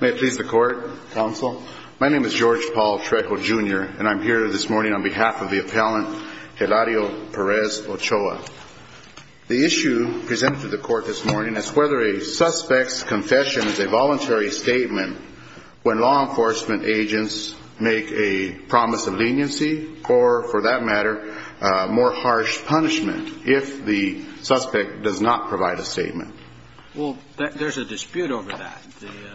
May it please the Court, Counsel. My name is George Paul Trejo, Jr., and I'm here this morning on behalf of the appellant, Hilario Perez Ochoa. The issue presented to the Court this morning is whether a suspect's confession is a voluntary statement when law enforcement agents make a promise of leniency or, for that matter, more harsh punishment if the Well, there's a dispute over that.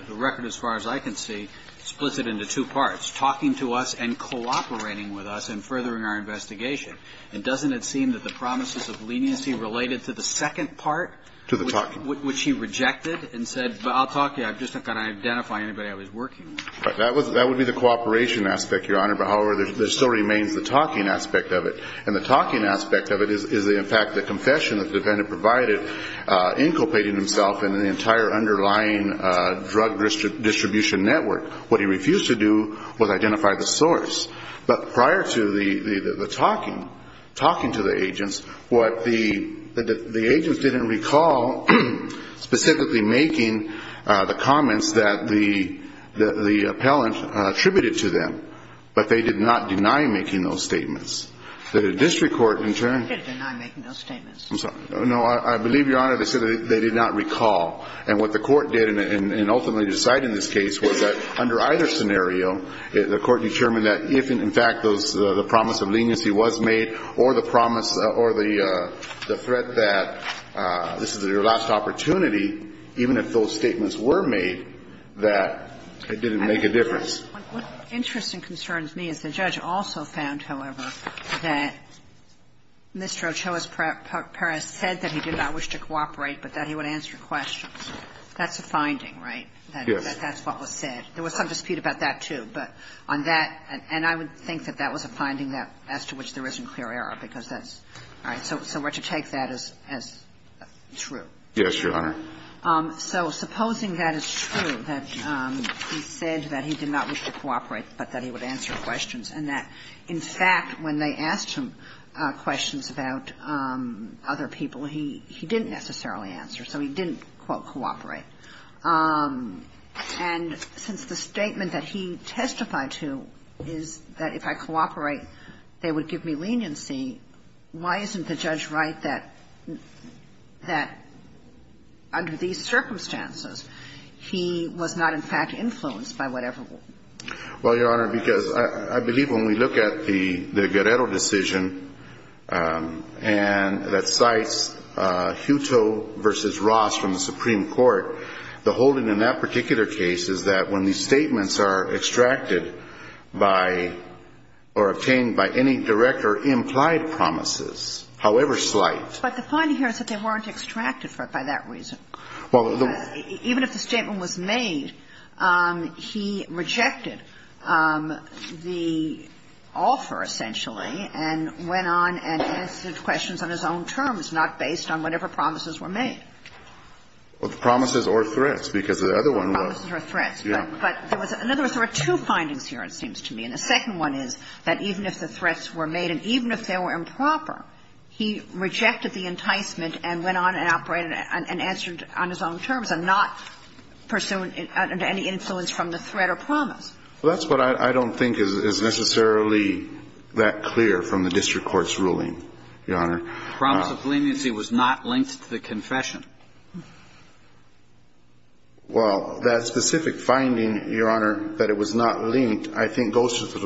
The record, as far as I can see, splits it into two parts, talking to us and cooperating with us and furthering our investigation. And doesn't it seem that the promises of leniency related to the second part, which he rejected and said, I'll talk to you, I'm just not going to identify anybody I was working with. That would be the cooperation aspect, Your Honor, but however, there still remains the talking aspect of it. And the talking aspect of it is, in fact, the confession the defendant provided, inculcating himself in the entire underlying drug distribution network. What he refused to do was identify the source. But prior to the talking to the agents, the agents didn't recall specifically making the comments that the appellant attributed to them, but they did not deny making those statements. The district court, in turn No, I believe, Your Honor, they said they did not recall. And what the court did, and ultimately decided in this case, was that under either scenario, the court determined that if, in fact, the promise of leniency was made or the promise or the threat that this is your last opportunity, even if those statements were made, that it didn't make sense to make those statements. And that's what the court did. And you can't make a difference. So the court decided it didn't make a difference. What interests and concerns me is the judge also found, however, that Mr. Ochoa's paraphrase said that he did not wish to cooperate, but that he would answer your questions. That's a finding, right? Yes. That that's what was said. There was some dispute about that, too. But on that, and I would think that that was a finding that as to which there isn't clear error, because that's, all right. But that he did not wish to cooperate, but that he would answer questions, and that, in fact, when they asked him questions about other people, he didn't necessarily answer. So he didn't, quote, cooperate. And since the statement that he testified to is that if I cooperate, they would give me leniency, why isn't the judge right that under these circumstances, he was not, in fact, influenced by whatever rule? Well, Your Honor, because I believe when we look at the Guerrero decision, and that cites Huto v. Ross from the Supreme Court, the holding in that particular case is that when these statements are extracted by or obtained by any direct or implied promises, however slight. But the finding here is that they weren't extracted for it by that reason. Even if the statement was made, he rejected the offer, essentially, and went on and answered questions on his own terms, not based on whatever promises were made. Well, the promises or threats, because the other one was. Promises or threats. Yeah. But there was – in other words, there were two findings here, it seems to me. And the second one is that even if the threats were made, and even if they were improper, he rejected the enticement and went on and operated and answered on his own terms and not pursuant to any influence from the threat or promise. Well, that's what I don't think is necessarily that clear from the district court's ruling, Your Honor. The promise of leniency was not linked to the confession. Well, that specific finding, Your Honor, that it was not linked, I think, goes to the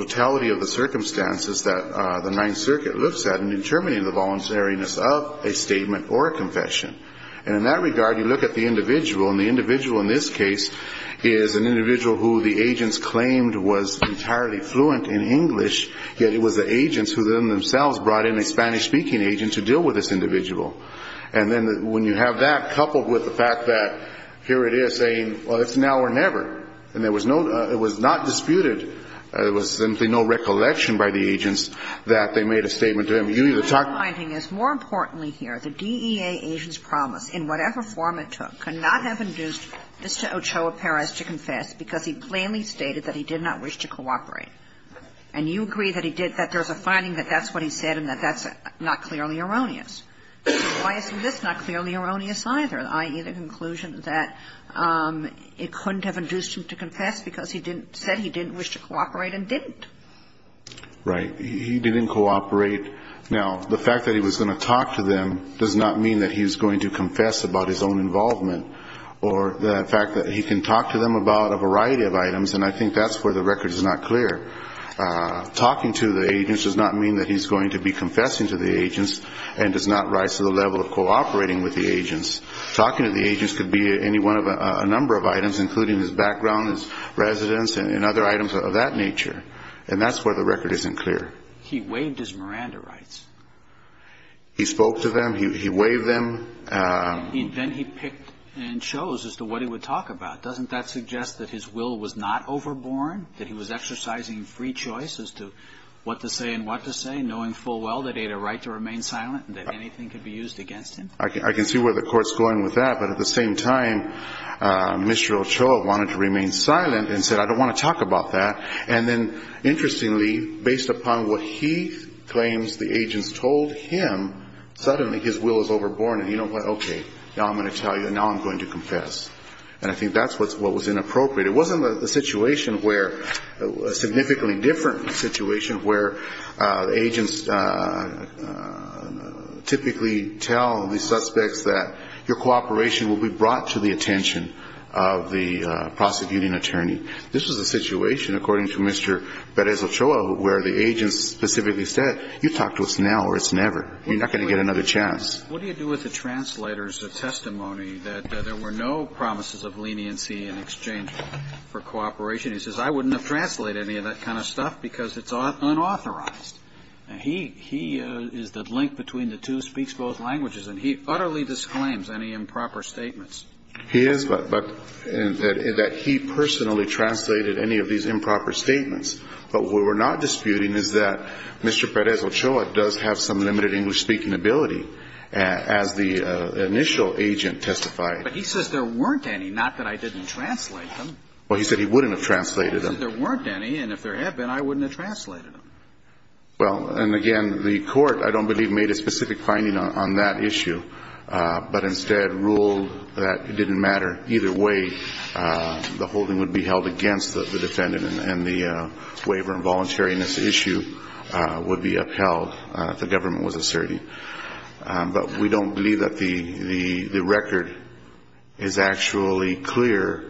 of a statement or a confession. And in that regard, you look at the individual, and the individual in this case is an individual who the agents claimed was entirely fluent in English, yet it was the agents who themselves brought in a Spanish-speaking agent to deal with this individual. And then when you have that coupled with the fact that here it is saying, well, it's now or never, and there was no – it was not disputed, there was simply no recollection by the agents that they made a statement to him. You either talk or you don't. My finding is, more importantly here, the DEA agent's promise, in whatever form it took, cannot have induced Mr. Ochoa Perez to confess because he plainly stated that he did not wish to cooperate. And you agree that he did – that there's a finding that that's what he said and that that's not clearly erroneous. Why is this not clearly erroneous either, i.e., the conclusion that it couldn't have induced him to confess because he didn't – said he didn't wish to cooperate and didn't? Right. He didn't cooperate. Now, the fact that he was going to talk to them does not mean that he's going to confess about his own involvement or the fact that he can talk to them about a variety of items, and I think that's where the record is not clear. Talking to the agents does not mean that he's going to be confessing to the agents and does not rise to the level of cooperating with the agents. Talking to the agents could be any one of – a number of items, including his background, his residence, and other items of that nature. And that's where the record isn't clear. He waved his Miranda rights. He spoke to them. He waved them. Then he picked and chose as to what he would talk about. Doesn't that suggest that his will was not overborne, that he was exercising free choice as to what to say and what to say, knowing full well that he had a right to remain silent and that anything could be used against him? I can see where the Court's going with that, but at the same time, Mr. Ochoa wanted to remain silent and said, I don't want to talk about that. And then, interestingly, based upon what he claims the agents told him, suddenly his will is overborne, and he went, okay, now I'm going to tell you and now I'm going to confess. And I think that's what was inappropriate. It wasn't a situation where – a significantly different situation where agents typically tell the suspects that your cooperation will be brought to the attention of the prosecuting attorney. This was a situation, according to Mr. Perez-Ochoa, where the agents specifically said, you talk to us now or it's never. You're not going to get another chance. What do you do with the translator's testimony that there were no promises of leniency in exchange for cooperation? He says, I wouldn't have translated any of that kind of stuff because it's unauthorized. He is the link between the two, speaks both languages, and he utterly disclaims any improper statements. He is, but that he personally translated any of these improper statements. But what we're not disputing is that Mr. Perez-Ochoa does have some limited English-speaking ability, as the initial agent testified. But he says there weren't any, not that I didn't translate them. Well, he said he wouldn't have translated them. He said there weren't any, and if there had been, I wouldn't have translated them. Well, and again, the Court, I don't believe, made a specific finding on that issue, but instead ruled that it didn't matter either way. The holding would be held against the defendant and the waiver and voluntariness issue would be upheld if the government was asserting. But we don't believe that the record is actually clear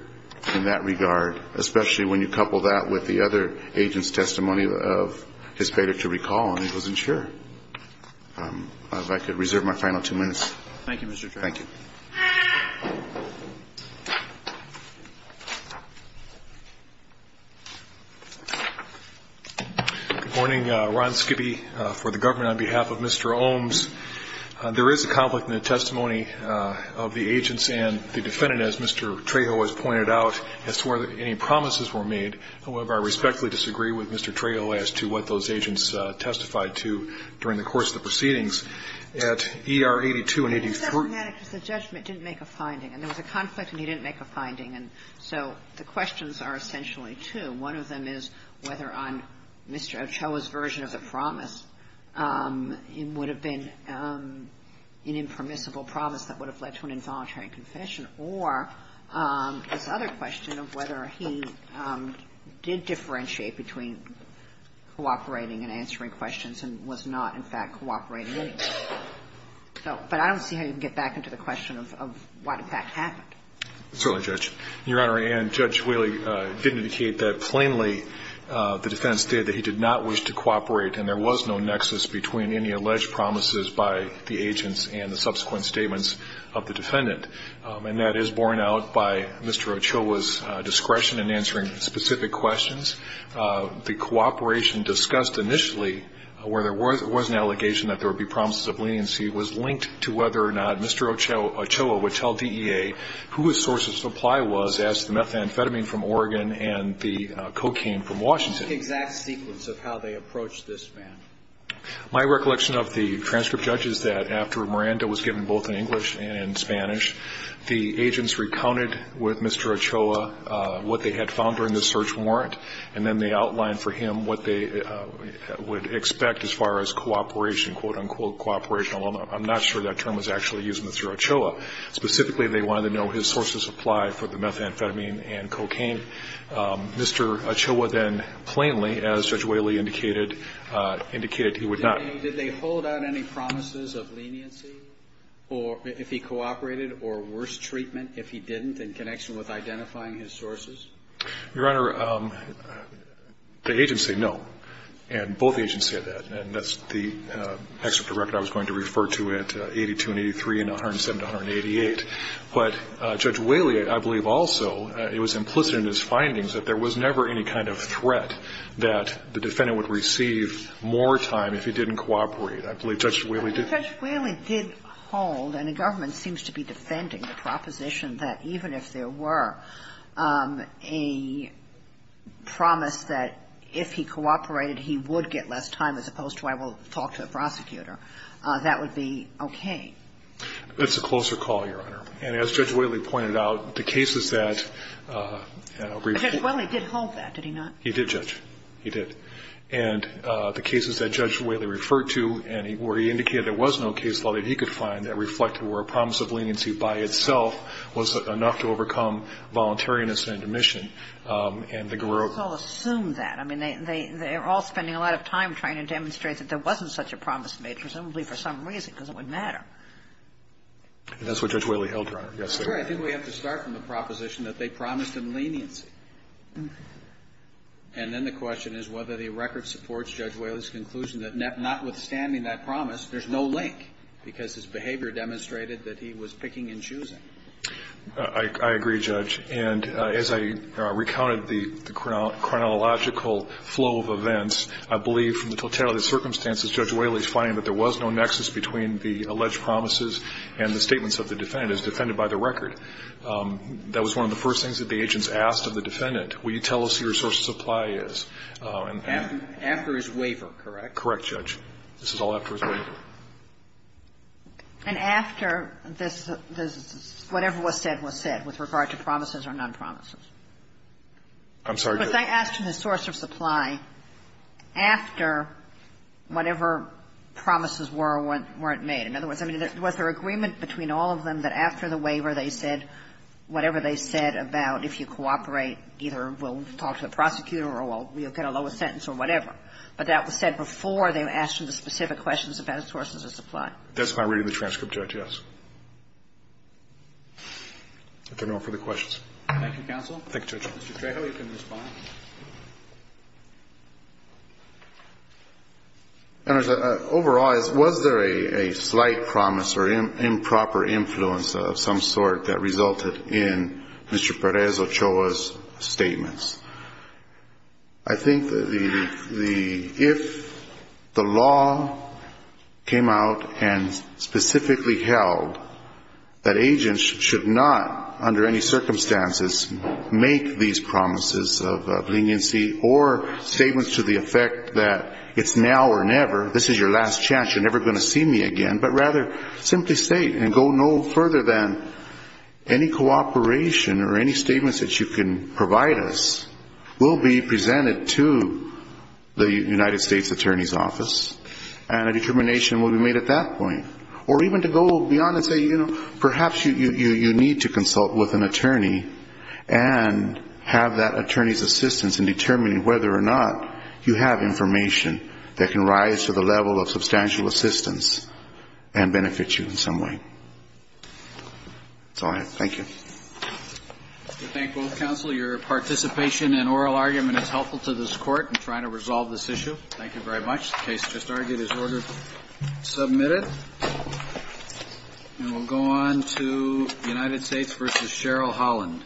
in that regard, especially when you couple that with the other agent's testimony of his failure to recall and he wasn't sure. If I could reserve my final two minutes. Thank you, Mr. Trejo. Thank you. Good morning. Ron Skippy for the government. On behalf of Mr. Ohms, there is a conflict in the testimony of the agents and the defendant, as Mr. Trejo has pointed out, as to whether any promises were made. However, I respectfully disagree with Mr. Trejo as to what those agents testified to during the course of the proceedings. At E.R. 82 and 84 ---- It's problematic because the judgment didn't make a finding. And there was a conflict and he didn't make a finding. And so the questions are essentially two. One of them is whether on Mr. Ochoa's version of the promise, it would have been an impermissible promise that would have led to an involuntary confession, or this other question of whether he did differentiate between cooperating and answering questions and was not, in fact, cooperating at all. But I don't see how you can get back into the question of what, in fact, happened. Certainly, Judge. Your Honor, Judge Whaley didn't indicate that plainly. The defense stated that he did not wish to cooperate and there was no nexus between any alleged promises by the agents and the subsequent statements of the defendant. And that is borne out by Mr. Ochoa's discretion in answering specific questions. The cooperation discussed initially, where there was an allegation that there would be promises of leniency, was linked to whether or not Mr. Ochoa would tell DEA who his source of supply was, as to the methamphetamine from Oregon and the cocaine from Washington. The exact sequence of how they approached this, ma'am. My recollection of the transcript, Judge, is that after Miranda was given both in English and in Spanish, the agents recounted with Mr. Ochoa what they had found during the search warrant, and then they outlined for him what they would expect as far as cooperation, quote, unquote, cooperation. Although I'm not sure that term was actually used with Mr. Ochoa. Specifically, they wanted to know his source of supply for the methamphetamine and cocaine. Mr. Ochoa then plainly, as Judge Whaley indicated, indicated he would not. Did they hold out any promises of leniency, or if he cooperated, or worse treatment if he didn't in connection with identifying his sources? Your Honor, the agents say no. And both agents said that. And that's the excerpt of the record I was going to refer to at 82 and 83 and 107 and 188. But Judge Whaley, I believe, also, it was implicit in his findings that there was never any kind of threat that the defendant would receive more time if he didn't cooperate. I believe Judge Whaley did. Judge Whaley did hold, and the government seems to be defending, the proposition that even if there were a promise that if he cooperated, he would get less time as opposed to I will talk to the prosecutor. That would be okay. That's a closer call, Your Honor. And as Judge Whaley pointed out, the cases that ---- Judge Whaley did hold that, did he not? He did, Judge. He did. And the cases that Judge Whaley referred to, where he indicated there was no case law that he could find that reflected where a promise of leniency by itself was enough to overcome voluntariness and admission, and the ---- Well, the courts all assume that. I mean, they're all spending a lot of time trying to demonstrate that there wasn't such a promise made, presumably for some reason, because it wouldn't matter. That's what Judge Whaley held, Your Honor. That's right. I think we have to start from the proposition that they promised him leniency. And then the question is whether the record supports Judge Whaley's conclusion that notwithstanding that promise, there's no link, because his behavior demonstrated that he was picking and choosing. I agree, Judge. And as I recounted the chronological flow of events, I believe from the totality of circumstances, Judge Whaley's finding that there was no nexus between the alleged promises and the statements of the defendant as defended by the record. That was one of the first things that the agents asked of the defendant. Will you tell us who your source of supply is? After his waiver, correct? Correct, Judge. This is all after his waiver. And after this, whatever was said was said with regard to promises or non-promises? I'm sorry, Judge. But they asked him his source of supply after whatever promises were or weren't made. In other words, I mean, was there agreement between all of them that after the waiver they said whatever they said about if you cooperate, either we'll talk to the prosecutor or we'll get a lower sentence or whatever, but that was said before they asked him specific questions about sources of supply? That's my reading of the transcript, Judge, yes. If there are no further questions. Thank you, Counsel. Thank you, Judge. Mr. Trejo, you can respond. Overall, was there a slight promise or improper influence of some sort that resulted in Mr. Perez-Ochoa's statements? I think that if the law came out and specifically held that agents should not, under any circumstances, make these promises of leniency or statements to the effect that it's now or never, this is your last chance, you're never going to see me again, but rather simply state and go no further than any cooperation or any statements that you can provide us will be presented to the United States Attorney's Office and a determination will be made at that point. Or even to go beyond and say, you know, perhaps you need to consult with an attorney and have that attorney's assistance in determining whether or not you have information that can rise to the level of substantial assistance and benefit you in some way. That's all I have. Thank you. We thank both counsel. Your participation and oral argument is helpful to this Court in trying to resolve this issue. Thank you very much. The case just argued is ordered submitted. And we'll go on to United States v. Cheryl Holland. Thank you.